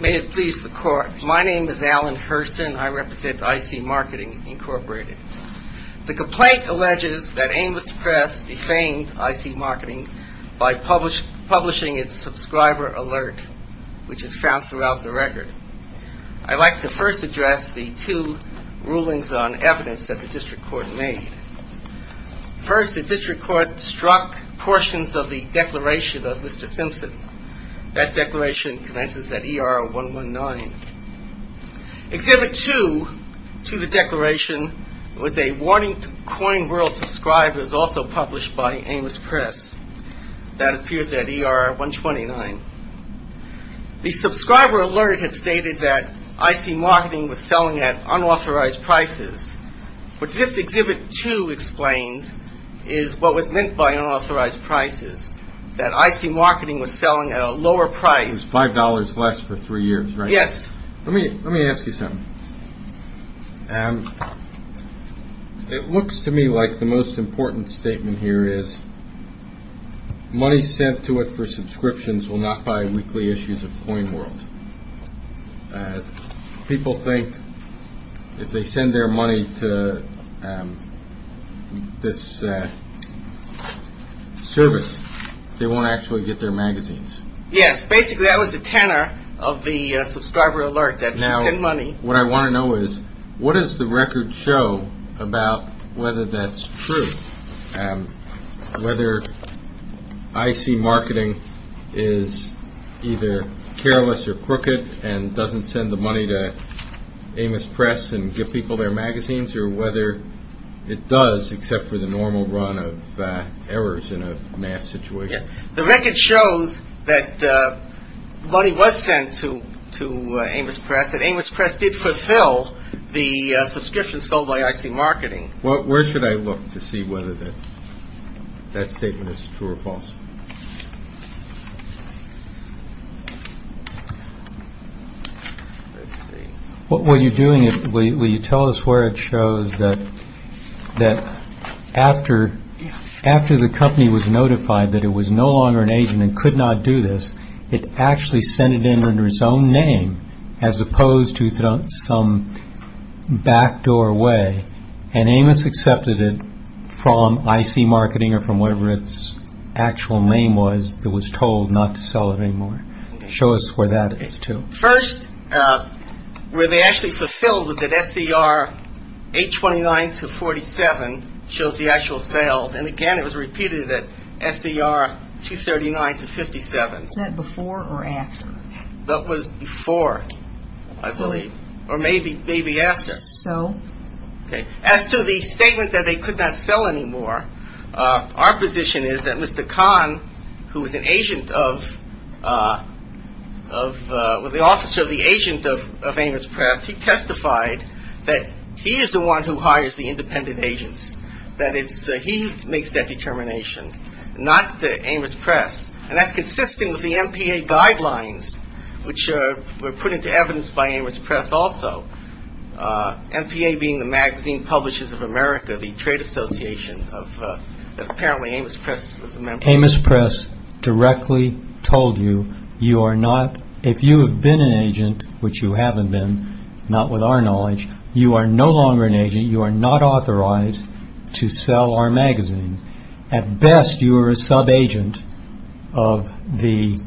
May it please the Court. My name is Alan Hurston. I represent I.C. Marketing, Inc. The complaint alleges that Amos Press defamed I.C. Marketing by publishing its subscriber alert, which is found throughout the record. I'd like to first address the two rulings on evidence that the District Court made. First, the District Court struck portions of the declaration of Mr. Simpson. That declaration commences at E.R. 119. Exhibit 2 to the declaration was a warning to CoinWorld subscribers also published by Amos Press. That appears at E.R. 129. The subscriber alert had stated that I.C. Marketing was selling at unauthorized prices. What this Exhibit 2 explains is what was meant by unauthorized prices, that I.C. Marketing was selling at a lower price. It was $5 less for three years, right? Yes. Let me ask you something. It looks to me like the most important statement here is money sent to it for subscriptions will not buy weekly issues of CoinWorld. People think if they send their money to this service, they won't actually get their magazines. Yes. Basically, that was the tenor of the subscriber alert, that you send money. Now, what I want to know is what does the record show about whether that's true? Whether I.C. Marketing is either careless or crooked and doesn't send the money to Amos Press and give people their magazines, or whether it does except for the normal run of errors in a mass situation? The record shows that money was sent to Amos Press, and Amos Press did fulfill the subscription sold by I.C. Marketing. Where should I look to see whether that statement is true or false? Will you tell us where it shows that after the company was notified that it was no longer an agent and could not do this, it actually sent it in under its own name as opposed to some backdoor way, and Amos accepted it from I.C. Marketing or from whatever its actual name was that was told not to sell it anymore. Show us where that is, too. First, where they actually fulfilled was that SCR 829-47 shows the actual sales, and again, it was repeated at SCR 239-57. Was that before or after? That was before, I believe, or maybe after. As to the statement that they could not sell anymore, our position is that Mr. Kahn, who was an agent of – was the officer of the agent of Amos Press, he testified that he is the one who hires the independent agents, that he makes that determination, not Amos Press, and that's consistent with the MPA guidelines, which were put into evidence by Amos Press also, MPA being the Magazine Publishers of America, the trade association that apparently Amos Press was a member of. Amos Press directly told you, you are not – if you have been an agent, which you haven't been, not with our knowledge, you are no longer an agent, you are not authorized to sell our magazine. At best, you are a sub-agent of the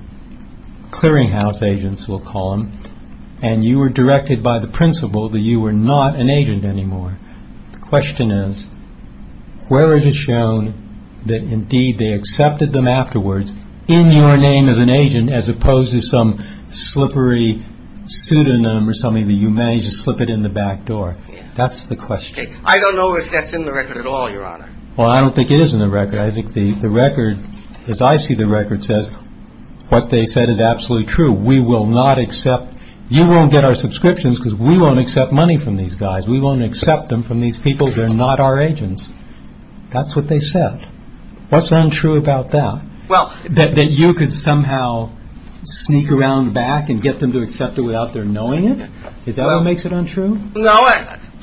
clearinghouse agents, we'll call them, and you were directed by the principal that you were not an agent anymore. The question is, where it is shown that indeed they accepted them afterwards in your name as an agent as opposed to some slippery pseudonym or something that you managed to slip it in the back door. That's the question. I don't know if that's in the record at all, Your Honor. Well, I don't think it is in the record. I think the record, as I see the record, says what they said is absolutely true. We will not accept – you won't get our subscriptions because we won't accept money from these guys. We won't accept them from these people. They're not our agents. That's what they said. What's untrue about that? That you could somehow sneak around back and get them to accept it without their knowing it? Is that what makes it untrue?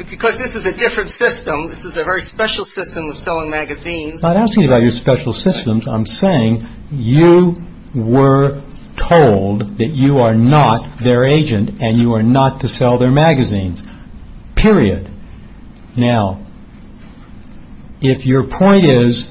Because this is a different system. This is a very special system of selling magazines. I'm not asking about your special systems. I'm saying you were told that you are not their agent and you are not to sell their magazines, period. Now, if your point is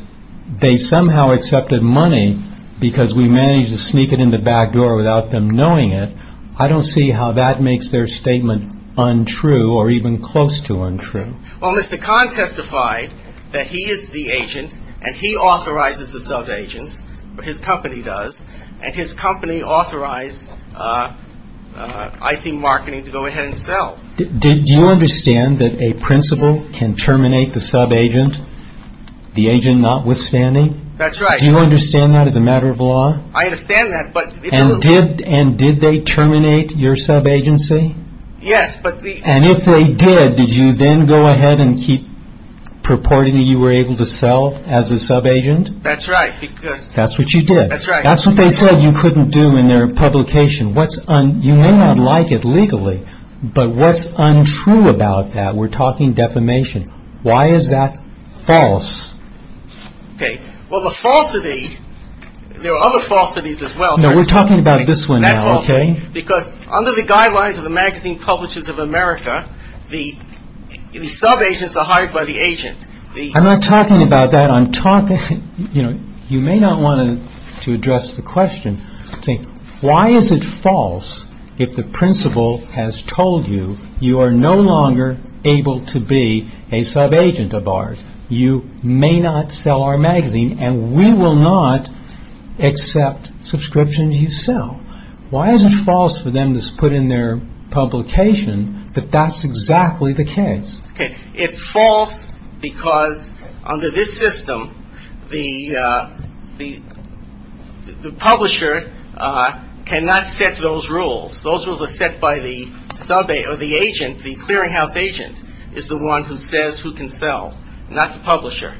they somehow accepted money because we managed to sneak it in the back door without them knowing it, I don't see how that makes their statement untrue or even close to untrue. Well, Mr. Kahn testified that he is the agent and he authorizes the subagents. His company does. And his company authorized IC Marketing to go ahead and sell. Do you understand that a principal can terminate the subagent, the agent notwithstanding? That's right. Do you understand that as a matter of law? I understand that. And did they terminate your subagency? Yes. And if they did, did you then go ahead and keep purporting that you were able to sell as a subagent? That's right. That's what you did. That's right. That's what they said you couldn't do in their publication. You may not like it legally, but what's untrue about that? We're talking defamation. Why is that false? Okay. Well, the falsity, there are other falsities as well. No, we're talking about this one now, okay? Because under the guidelines of the Magazine Publishers of America, the subagents are hired by the agent. I'm not talking about that. I'm talking, you know, you may not want to address the question. Why is it false if the principal has told you you are no longer able to be a subagent of ours? You may not sell our magazine, and we will not accept subscriptions you sell. Why is it false for them to put in their publication that that's exactly the case? Okay. It's false because under this system, the publisher cannot set those rules. Those rules are set by the agent, the clearinghouse agent is the one who says who can sell, not the publisher.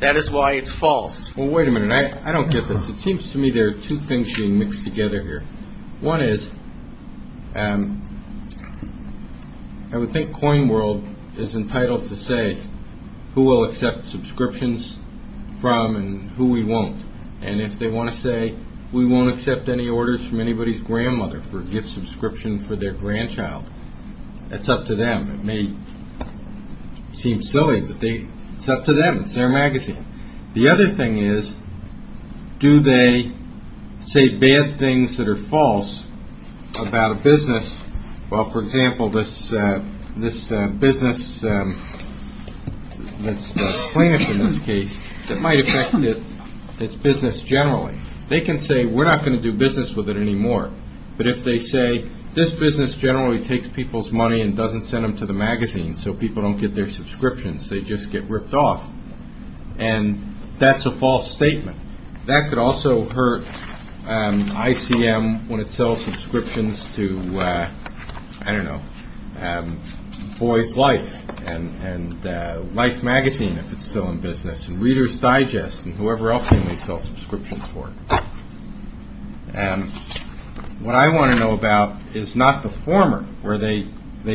That is why it's false. Well, wait a minute. I don't get this. It seems to me there are two things being mixed together here. One is I would think CoinWorld is entitled to say who we'll accept subscriptions from and who we won't. And if they want to say we won't accept any orders from anybody's grandmother for a gift subscription for their grandchild, that's up to them. It may seem silly, but it's up to them. It's their magazine. The other thing is do they say bad things that are false about a business? Well, for example, this business, this plaintiff in this case, that might affect its business generally. They can say we're not going to do business with it anymore. But if they say this business generally takes people's money and doesn't send them to the magazine so people don't get their subscriptions, they just get ripped off, and that's a false statement. That could also hurt ICM when it sells subscriptions to, I don't know, Boys Life and Life Magazine if it's still in business, and Reader's Digest and whoever else they may sell subscriptions for. What I want to know about is not the former where they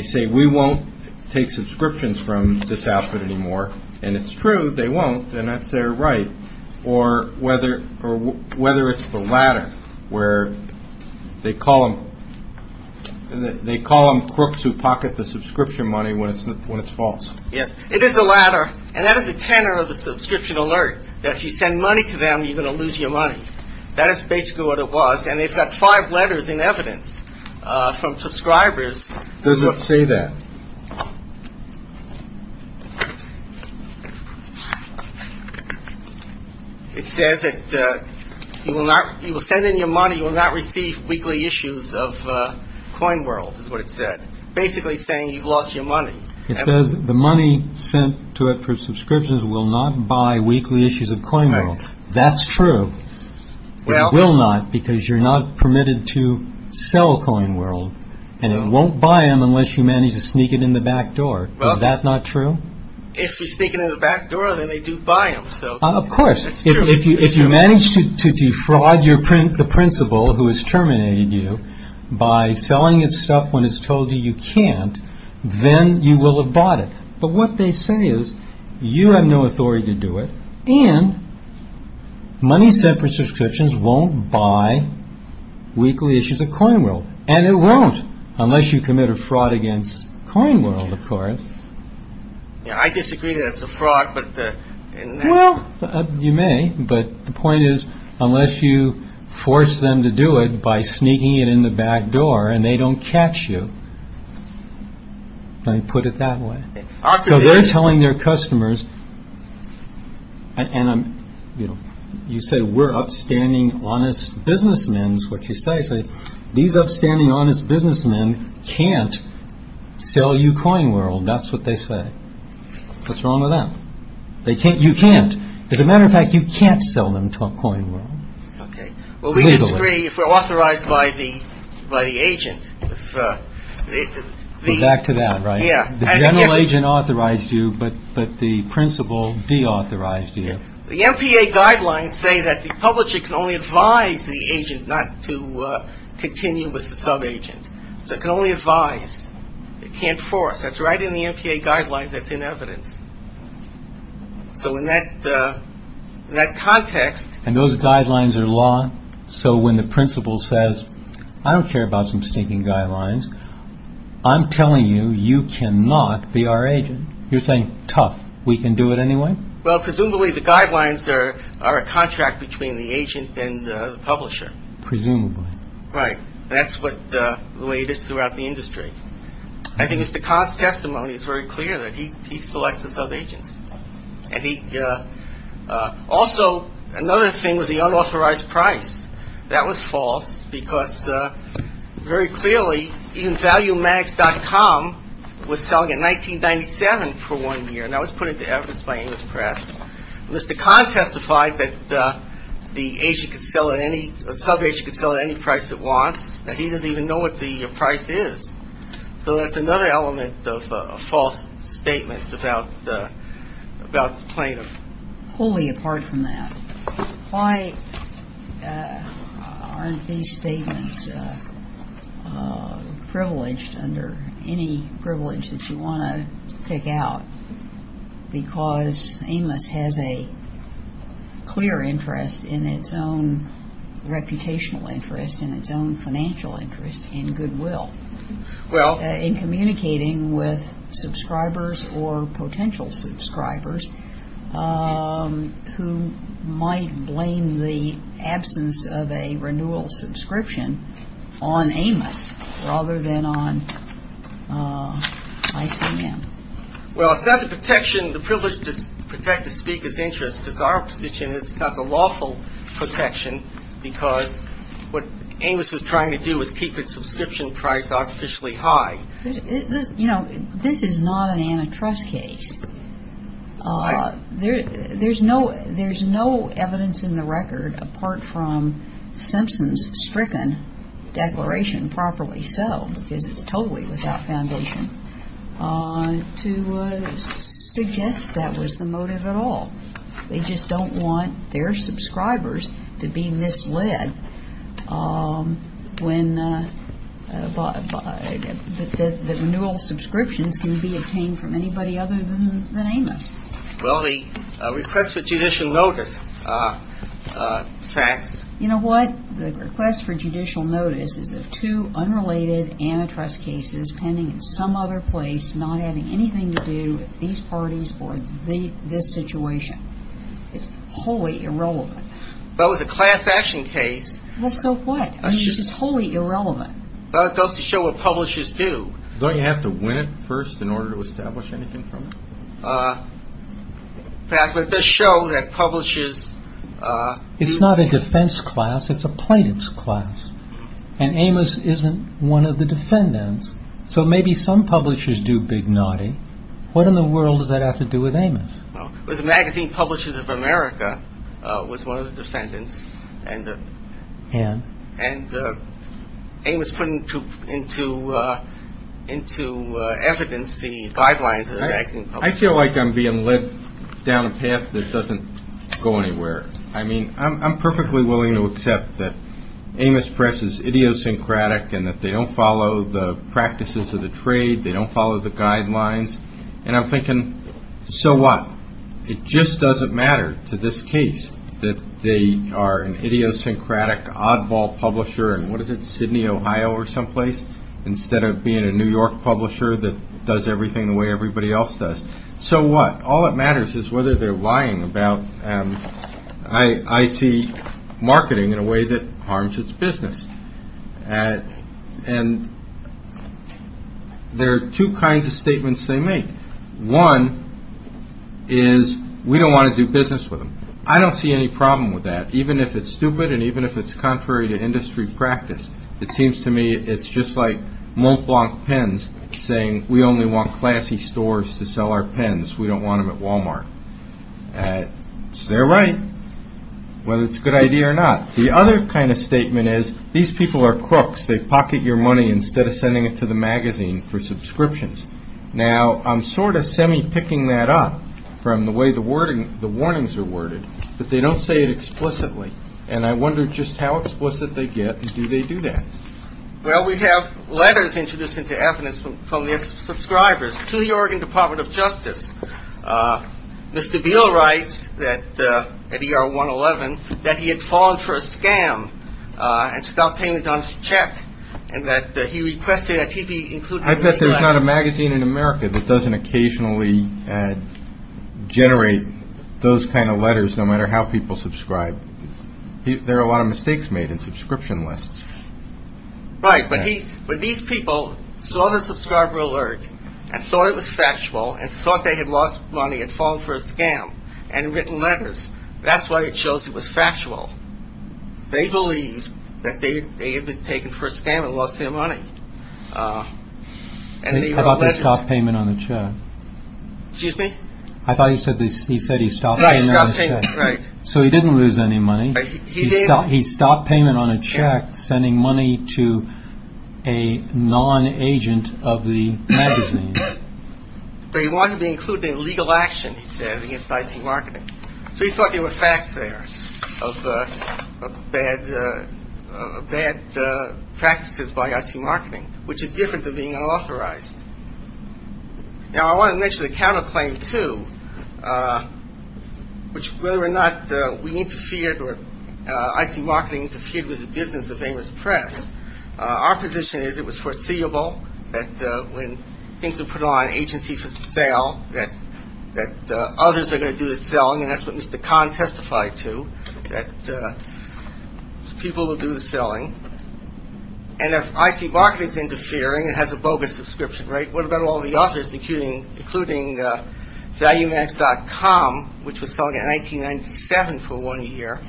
say we won't take subscriptions from this outfit anymore. And it's true, they won't, and that's their right. Or whether it's the latter where they call them crooks who pocket the subscription money when it's false. Yes, it is the latter. And that is the tenor of the subscription alert, that if you send money to them, you're going to lose your money. That is basically what it was. And they've got five letters in evidence from subscribers. There's what say that. It says that you will not you will send in your money. You will not receive weekly issues of Coinworld is what it said, basically saying you've lost your money. It says the money sent to it for subscriptions will not buy weekly issues of Coinworld. That's true. It will not because you're not permitted to sell Coinworld, and it won't buy them unless you manage to sneak it in the back door. Is that not true? If you sneak it in the back door, then they do buy them. Of course. If you manage to defraud the principal who has terminated you by selling it stuff when it's told you you can't, then you will have bought it. But what they say is you have no authority to do it, and money sent for subscriptions won't buy weekly issues of Coinworld. And it won't unless you commit a fraud against Coinworld, of course. I disagree that it's a fraud. Well, you may, but the point is unless you force them to do it by sneaking it in the back door and they don't catch you. Let me put it that way. So they're telling their customers, and you said we're upstanding, honest businessmen. What you say is these upstanding, honest businessmen can't sell you Coinworld. That's what they say. What's wrong with that? You can't. As a matter of fact, you can't sell them Coinworld legally. I disagree if we're authorized by the agent. Go back to that, right? Yeah. The general agent authorized you, but the principal deauthorized you. The MPA guidelines say that the publisher can only advise the agent not to continue with the subagent. So it can only advise. It can't force. That's right in the MPA guidelines. That's in evidence. So in that context. And those guidelines are law. So when the principal says, I don't care about some stinking guidelines. I'm telling you, you cannot be our agent. You're saying tough. We can do it anyway. Well, presumably the guidelines are a contract between the agent and the publisher. Presumably. Right. That's the way it is throughout the industry. I think Mr. Kahn's testimony is very clear that he selects the subagents. And he also, another thing was the unauthorized price. That was false because very clearly, even valuemax.com was selling at $19.97 for one year. And that was put into evidence by English press. Mr. Kahn testified that the agent could sell at any, a subagent could sell at any price it wants. And he doesn't even know what the price is. So that's another element of a false statement about plaintiff. Wholly apart from that. Why aren't these statements privileged under any privilege that you want to pick out? Because Amos has a clear interest in its own reputational interest and its own financial interest in goodwill. Well. In communicating with subscribers or potential subscribers who might blame the absence of a renewal subscription on Amos rather than on ICM. Well, it's not the protection, the privilege to protect the speaker's interest. It's our position it's not the lawful protection because what Amos was trying to do was keep its subscription price artificially high. You know, this is not an antitrust case. There's no evidence in the record, apart from Simpson's stricken declaration, because it's totally without foundation, to suggest that was the motive at all. They just don't want their subscribers to be misled when the renewal subscriptions can be obtained from anybody other than Amos. Well, the request for judicial notice facts. You know what? The request for judicial notice is of two unrelated antitrust cases pending in some other place, not having anything to do with these parties or this situation. It's wholly irrelevant. Well, it was a class action case. So what? I mean, it's just wholly irrelevant. Well, it goes to show what publishers do. Don't you have to win it first in order to establish anything from it? Perhaps it does show that publishers... It's not a defense class. It's a plaintiff's class. And Amos isn't one of the defendants. So maybe some publishers do big naughty. What in the world does that have to do with Amos? Well, the Magazine Publishers of America was one of the defendants. And? And Amos put into evidence the guidelines of the magazine publishers. Well, I feel like I'm being led down a path that doesn't go anywhere. I mean, I'm perfectly willing to accept that Amos Press is idiosyncratic and that they don't follow the practices of the trade. They don't follow the guidelines. And I'm thinking, so what? It just doesn't matter to this case that they are an idiosyncratic oddball publisher in, what is it, So what? All that matters is whether they're lying about... I see marketing in a way that harms its business. And there are two kinds of statements they make. One is, we don't want to do business with them. I don't see any problem with that, even if it's stupid and even if it's contrary to industry practice. It seems to me it's just like Mont Blanc Pens saying, We only want classy stores to sell our pens. We don't want them at Walmart. So they're right, whether it's a good idea or not. The other kind of statement is, these people are crooks. They pocket your money instead of sending it to the magazine for subscriptions. Now, I'm sort of semi-picking that up from the way the warnings are worded. But they don't say it explicitly. And I wonder just how explicit they get. Do they do that? Well, we have letters introduced into evidence from their subscribers to the Oregon Department of Justice. Mr. Beal writes at ER 111 that he had fallen for a scam and stopped paying his check, and that he requested that he be included in the letter. There's not a magazine in America that doesn't occasionally generate those kind of letters, no matter how people subscribe. There are a lot of mistakes made in subscription lists. Right, but these people saw the subscriber alert and saw it was factual and thought they had lost money and fallen for a scam and had written letters. That's why it shows it was factual. They believed that they had been taken for a scam and lost their money. How about the stop payment on the check? Excuse me? I thought he said he stopped paying on the check. Right. So he didn't lose any money. He did. He stopped payment on a check, sending money to a non-agent of the magazine. They wanted me included in legal action, he said, against Dicey Marketing. So he thought there were facts there of bad practices by Dicey Marketing, which is different than being unauthorized. Now, I want to mention a counterclaim, too, which whether or not we interfered or Dicey Marketing interfered with the business of Amos Press, our position is it was foreseeable that when things are put on agency for sale, that others are going to do the selling, and that's what Mr. Kahn testified to, that people will do the selling. And if Dicey Marketing is interfering and has a bogus subscription rate, what about all the others, including ValueMax.com, which was selling at $19.97 for one year?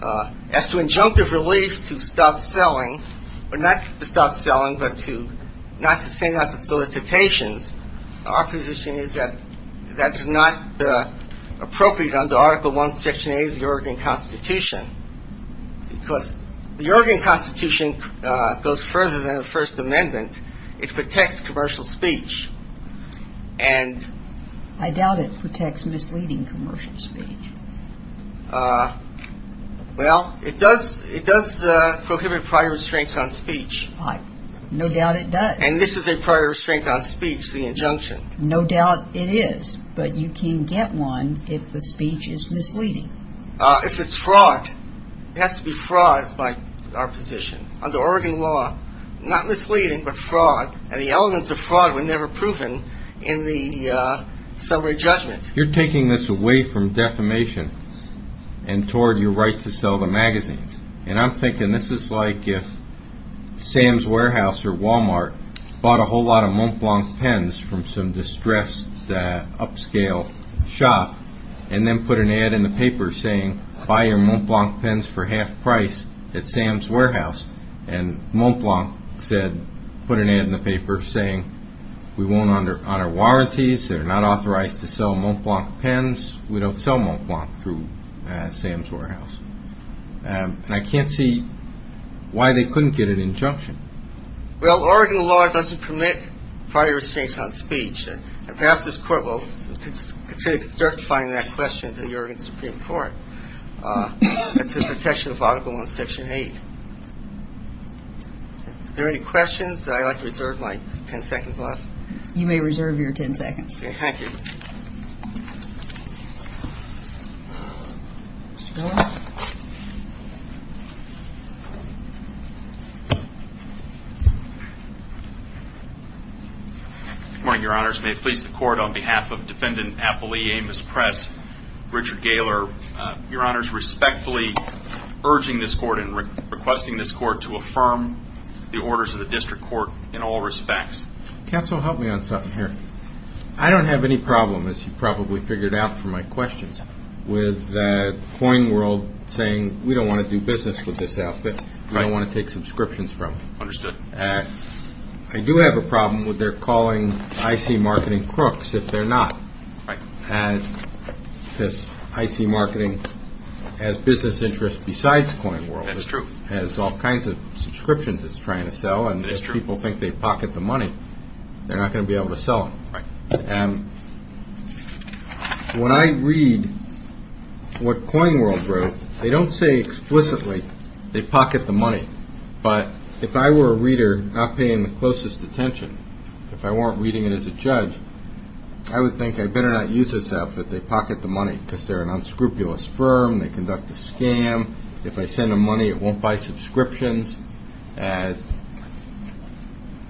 As to injunctive relief to stop selling, or not to stop selling but to not to send out the solicitations, our position is that that is not appropriate under Article I, Section 8 of the Oregon Constitution because the Oregon Constitution goes further than the First Amendment. It protects commercial speech. And I doubt it protects misleading commercial speech. Well, it does prohibit prior restraints on speech. No doubt it does. And this is a prior restraint on speech, the injunction. No doubt it is, but you can get one if the speech is misleading. If it's fraud, it has to be fraud by our position. Under Oregon law, not misleading but fraud, and the elements of fraud were never proven in the summary judgment. You're taking this away from defamation and toward your right to sell the magazines. And I'm thinking this is like if Sam's Warehouse or Walmart bought a whole lot of Montblanc pens from some distressed upscale shop and then put an ad in the paper saying, buy your Montblanc pens for half price at Sam's Warehouse. And Montblanc put an ad in the paper saying, we won't honor warranties, they're not authorized to sell Montblanc pens, we don't sell Montblanc through Sam's Warehouse. And I can't see why they couldn't get an injunction. Well, Oregon law doesn't permit prior restraints on speech. And perhaps this Court will consider certifying that question to the Oregon Supreme Court. That's the protection of Article 1, Section 8. Are there any questions? I'd like to reserve my ten seconds left. You may reserve your ten seconds. Thank you. Good morning, Your Honors. May it please the Court, on behalf of Defendant Appellee Amos Press, Richard Gaylor, Your Honors, respectfully urging this Court and requesting this Court to affirm the orders of the District Court in all respects. Counsel, help me on something here. I don't have any problem, as you probably figured out from my questions, with CoinWorld saying, we don't want to do business with this outfit, we don't want to take subscriptions from it. Understood. I do have a problem with their calling IC Marketing Crooks if they're not. Right. And this IC Marketing has business interests besides CoinWorld. That's true. It has all kinds of subscriptions it's trying to sell. That's true. And if people think they pocket the money, they're not going to be able to sell them. Right. And when I read what CoinWorld wrote, they don't say explicitly, they pocket the money. But if I were a reader not paying the closest attention, if I weren't reading it as a judge, I would think I better not use this outfit. They pocket the money because they're an unscrupulous firm. They conduct a scam. If I send them money, it won't buy subscriptions. And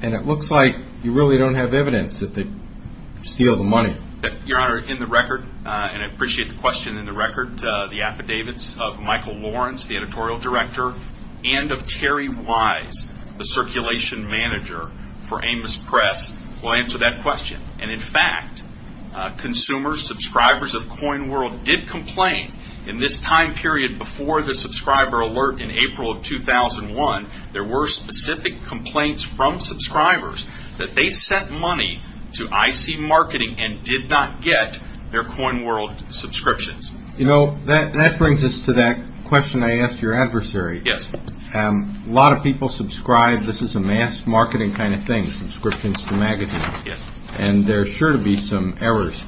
it looks like you really don't have evidence that they steal the money. Your Honor, in the record, and I appreciate the question in the record, the affidavits of Michael Lawrence, the editorial director, and of Terry Wise, the circulation manager for Amos Press, will answer that question. And, in fact, consumers, subscribers of CoinWorld did complain in this time period before the subscriber alert in April of 2001, there were specific complaints from subscribers that they sent money to IC Marketing and did not get their CoinWorld subscriptions. You know, that brings us to that question I asked your adversary. Yes. A lot of people subscribe. This is a mass marketing kind of thing, subscriptions to magazines. Yes. And there are sure to be some errors.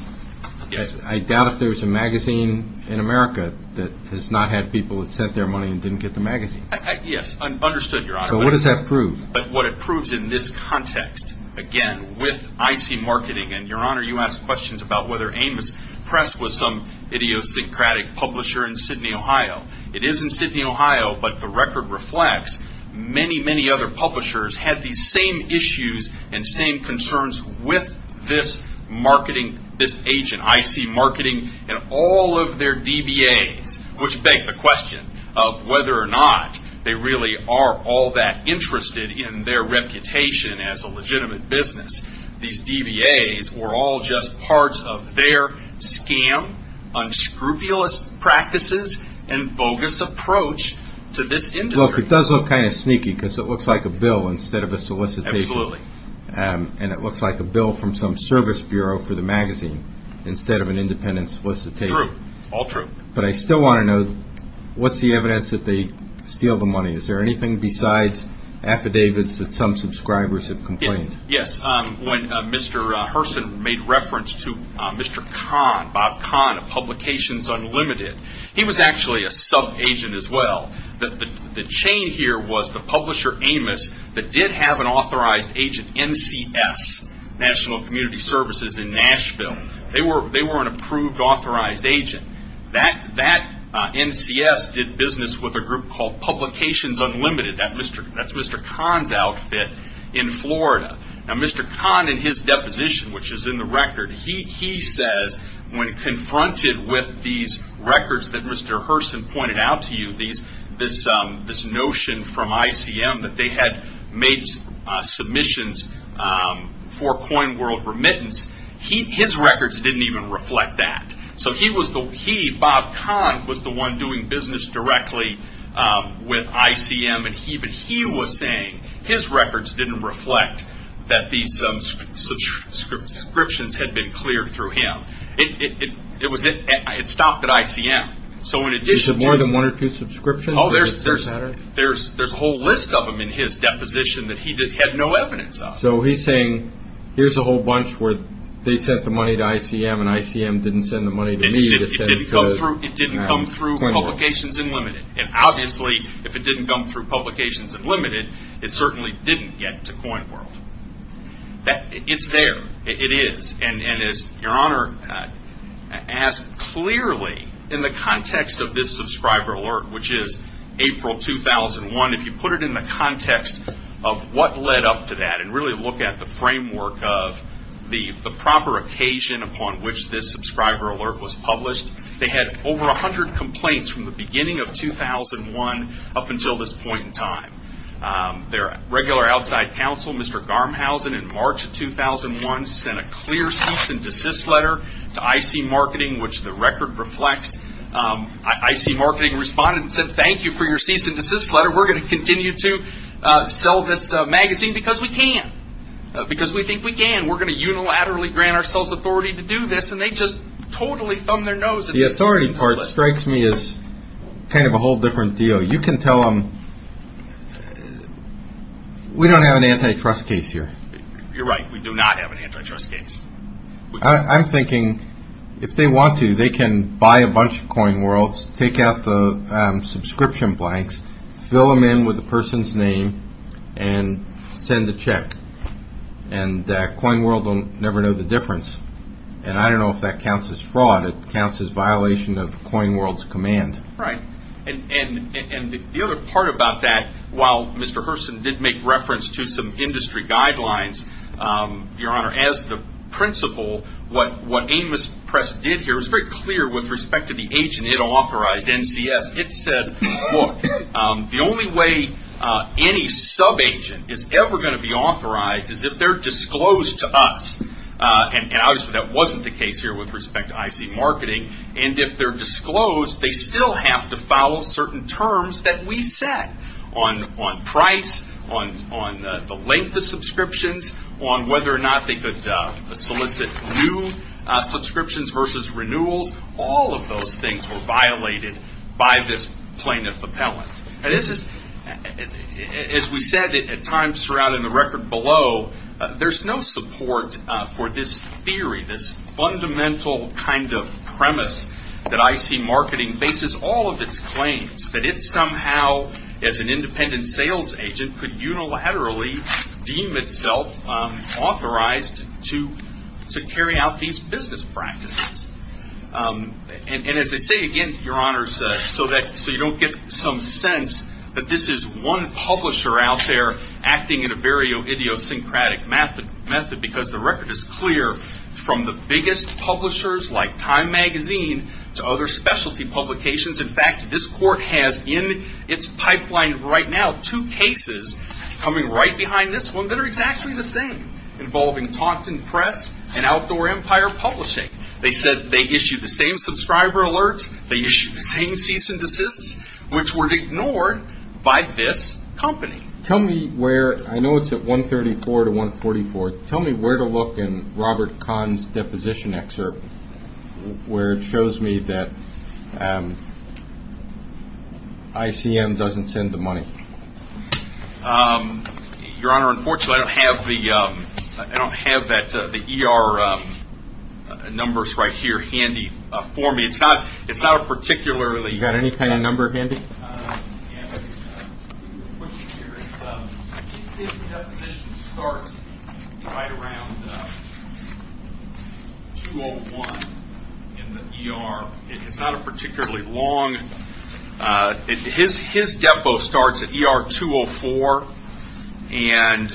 Yes. I doubt if there's a magazine in America that has not had people that sent their money and didn't get the magazine. Yes, understood, Your Honor. So what does that prove? What it proves in this context, again, with IC Marketing, and, Your Honor, you asked questions about whether Amos Press was some idiosyncratic publisher in Sydney, Ohio. It is in Sydney, Ohio, but the record reflects many, many other publishers had these same issues and same concerns with this agent, IC Marketing, and all of their DBAs, which begs the question of whether or not they really are all that interested in their reputation as a legitimate business. These DBAs were all just parts of their scam, unscrupulous practices, and bogus approach to this industry. Look, it does look kind of sneaky because it looks like a bill instead of a solicitation. Absolutely. And it looks like a bill from some service bureau for the magazine instead of an independent solicitation. True, all true. But I still want to know, what's the evidence that they steal the money? Is there anything besides affidavits that some subscribers have complained? Yes. When Mr. Hurston made reference to Mr. Kahn, Bob Kahn of Publications Unlimited, he was actually a sub-agent as well. The chain here was the publisher Amos that did have an authorized agent, NCS, National Community Services in Nashville. They were an approved authorized agent. That NCS did business with a group called Publications Unlimited. That's Mr. Kahn's outfit in Florida. Now Mr. Kahn in his deposition, which is in the record, he says when confronted with these records that Mr. Hurston pointed out to you, this notion from ICM that they had made submissions for coin world remittance, his records didn't even reflect that. So he, Bob Kahn, was the one doing business directly with ICM. He was saying his records didn't reflect that these subscriptions had been cleared through him. It stopped at ICM. Is there more than one or two subscriptions? There's a whole list of them in his deposition that he had no evidence of. So he's saying here's a whole bunch where they sent the money to ICM and ICM didn't send the money to me to send to coin world. It didn't come through Publications Unlimited. And obviously if it didn't come through Publications Unlimited, it certainly didn't get to coin world. It's there. It is. And as your honor asked clearly in the context of this subscriber alert, which is April 2001, if you put it in the context of what led up to that and really look at the framework of the proper occasion upon which this subscriber alert was published, they had over 100 complaints from the beginning of 2001 up until this point in time. Their regular outside counsel, Mr. Garmhausen, in March of 2001, sent a clear cease and desist letter to IC Marketing, which the record reflects. IC Marketing responded and said, thank you for your cease and desist letter. We're going to continue to sell this magazine because we can, because we think we can. We're going to unilaterally grant ourselves authority to do this. The authority part strikes me as kind of a whole different deal. You can tell them we don't have an antitrust case here. You're right. We do not have an antitrust case. I'm thinking if they want to, they can buy a bunch of coin worlds, take out the subscription blanks, fill them in with the person's name, and send a check. And coin world will never know the difference. And I don't know if that counts as fraud. It counts as violation of coin world's command. Right. And the other part about that, while Mr. Herson did make reference to some industry guidelines, Your Honor, as the principal, what Amos Press did here, it was very clear with respect to the agent it authorized, NCS. It said, look, the only way any sub-agent is ever going to be authorized is if they're disclosed to us. And obviously that wasn't the case here with respect to IC Marketing. And if they're disclosed, they still have to follow certain terms that we set on price, on the length of subscriptions, on whether or not they could solicit new subscriptions versus renewals. All of those things were violated by this plaintiff appellant. As we said at times surrounding the record below, there's no support for this theory, this fundamental kind of premise that IC Marketing bases all of its claims, that it somehow, as an independent sales agent, could unilaterally deem itself authorized to carry out these business practices. And as I say again, Your Honors, so you don't get some sense that this is one publisher out there acting in a very idiosyncratic method, because the record is clear from the biggest publishers like Time Magazine to other specialty publications. In fact, this court has in its pipeline right now two cases coming right behind this one that are exactly the same, involving Taunton Press and Outdoor Empire Publishing. They said they issued the same subscriber alerts, they issued the same cease and desist, which were ignored by this company. Tell me where, I know it's at 134 to 144, tell me where to look in Robert Kahn's deposition excerpt, where it shows me that ICM doesn't send the money. Your Honor, unfortunately, I don't have the ER numbers right here handy for me. It's not a particularly… You got any kind of number handy? His deposition starts right around 201 in the ER. It's not a particularly long… His depo starts at ER 204, and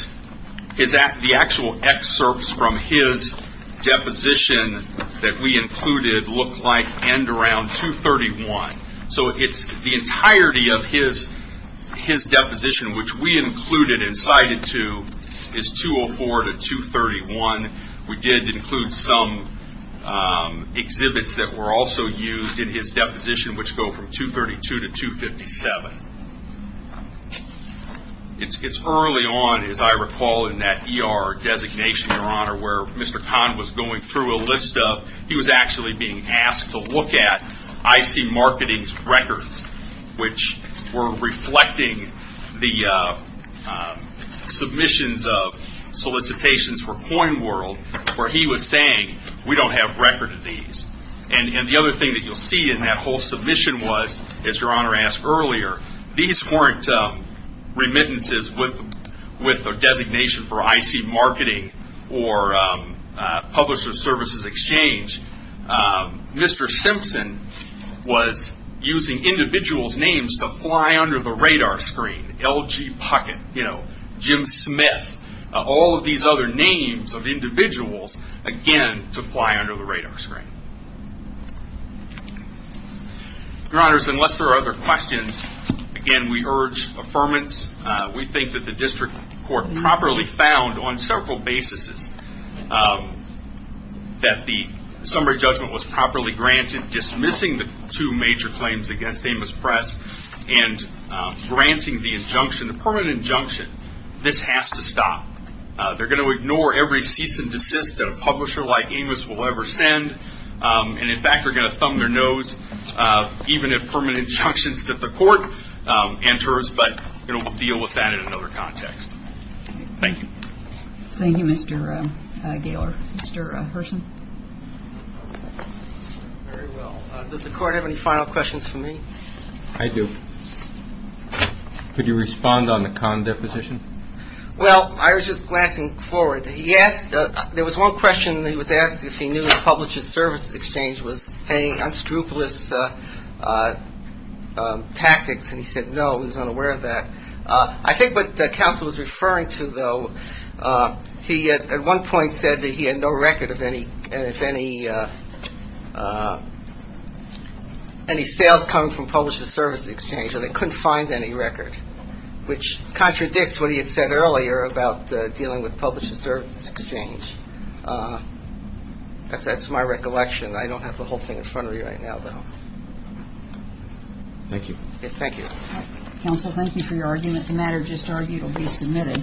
the actual excerpts from his deposition that we included look like end around 231. The entirety of his deposition, which we included and cited to, is 204 to 231. We did include some exhibits that were also used in his deposition, which go from 232 to 257. It's early on, as I recall, in that ER designation, Your Honor, where Mr. Kahn was going through a list of… which were reflecting the submissions of solicitations for CoinWorld, where he was saying, we don't have record of these. And the other thing that you'll see in that whole submission was, as Your Honor asked earlier, these weren't remittances with a designation for IC Marketing or Publisher Services Exchange. Mr. Simpson was using individuals' names to fly under the radar screen. LG Puckett, Jim Smith, all of these other names of individuals, again, to fly under the radar screen. Your Honors, unless there are other questions, again, we urge affirmance. We think that the district court properly found on several basis that the summary judgment was properly granted, dismissing the two major claims against Amos Press, and granting the injunction, the permanent injunction, this has to stop. They're going to ignore every cease and desist that a publisher like Amos will ever send. And in fact, they're going to thumb their nose even at permanent injunctions that the court enters. But we're going to deal with that in another context. Thank you. Thank you, Mr. Gailer. Mr. Herson. Very well. Does the court have any final questions for me? I do. Could you respond on the con deposition? Well, I was just glancing forward. He asked, there was one question he was asked if he knew the Publisher Services Exchange was paying on scrupulous tactics. And he said, no, he was unaware of that. I think what counsel was referring to, though, he at one point said that he had no record of any sales coming from Publisher Services Exchange, and they couldn't find any record, which contradicts what he had said earlier about dealing with Publisher Services Exchange. That's my recollection. I don't have the whole thing in front of me right now, though. Thank you. Thank you. Counsel, thank you for your argument. The matter just argued will be submitted.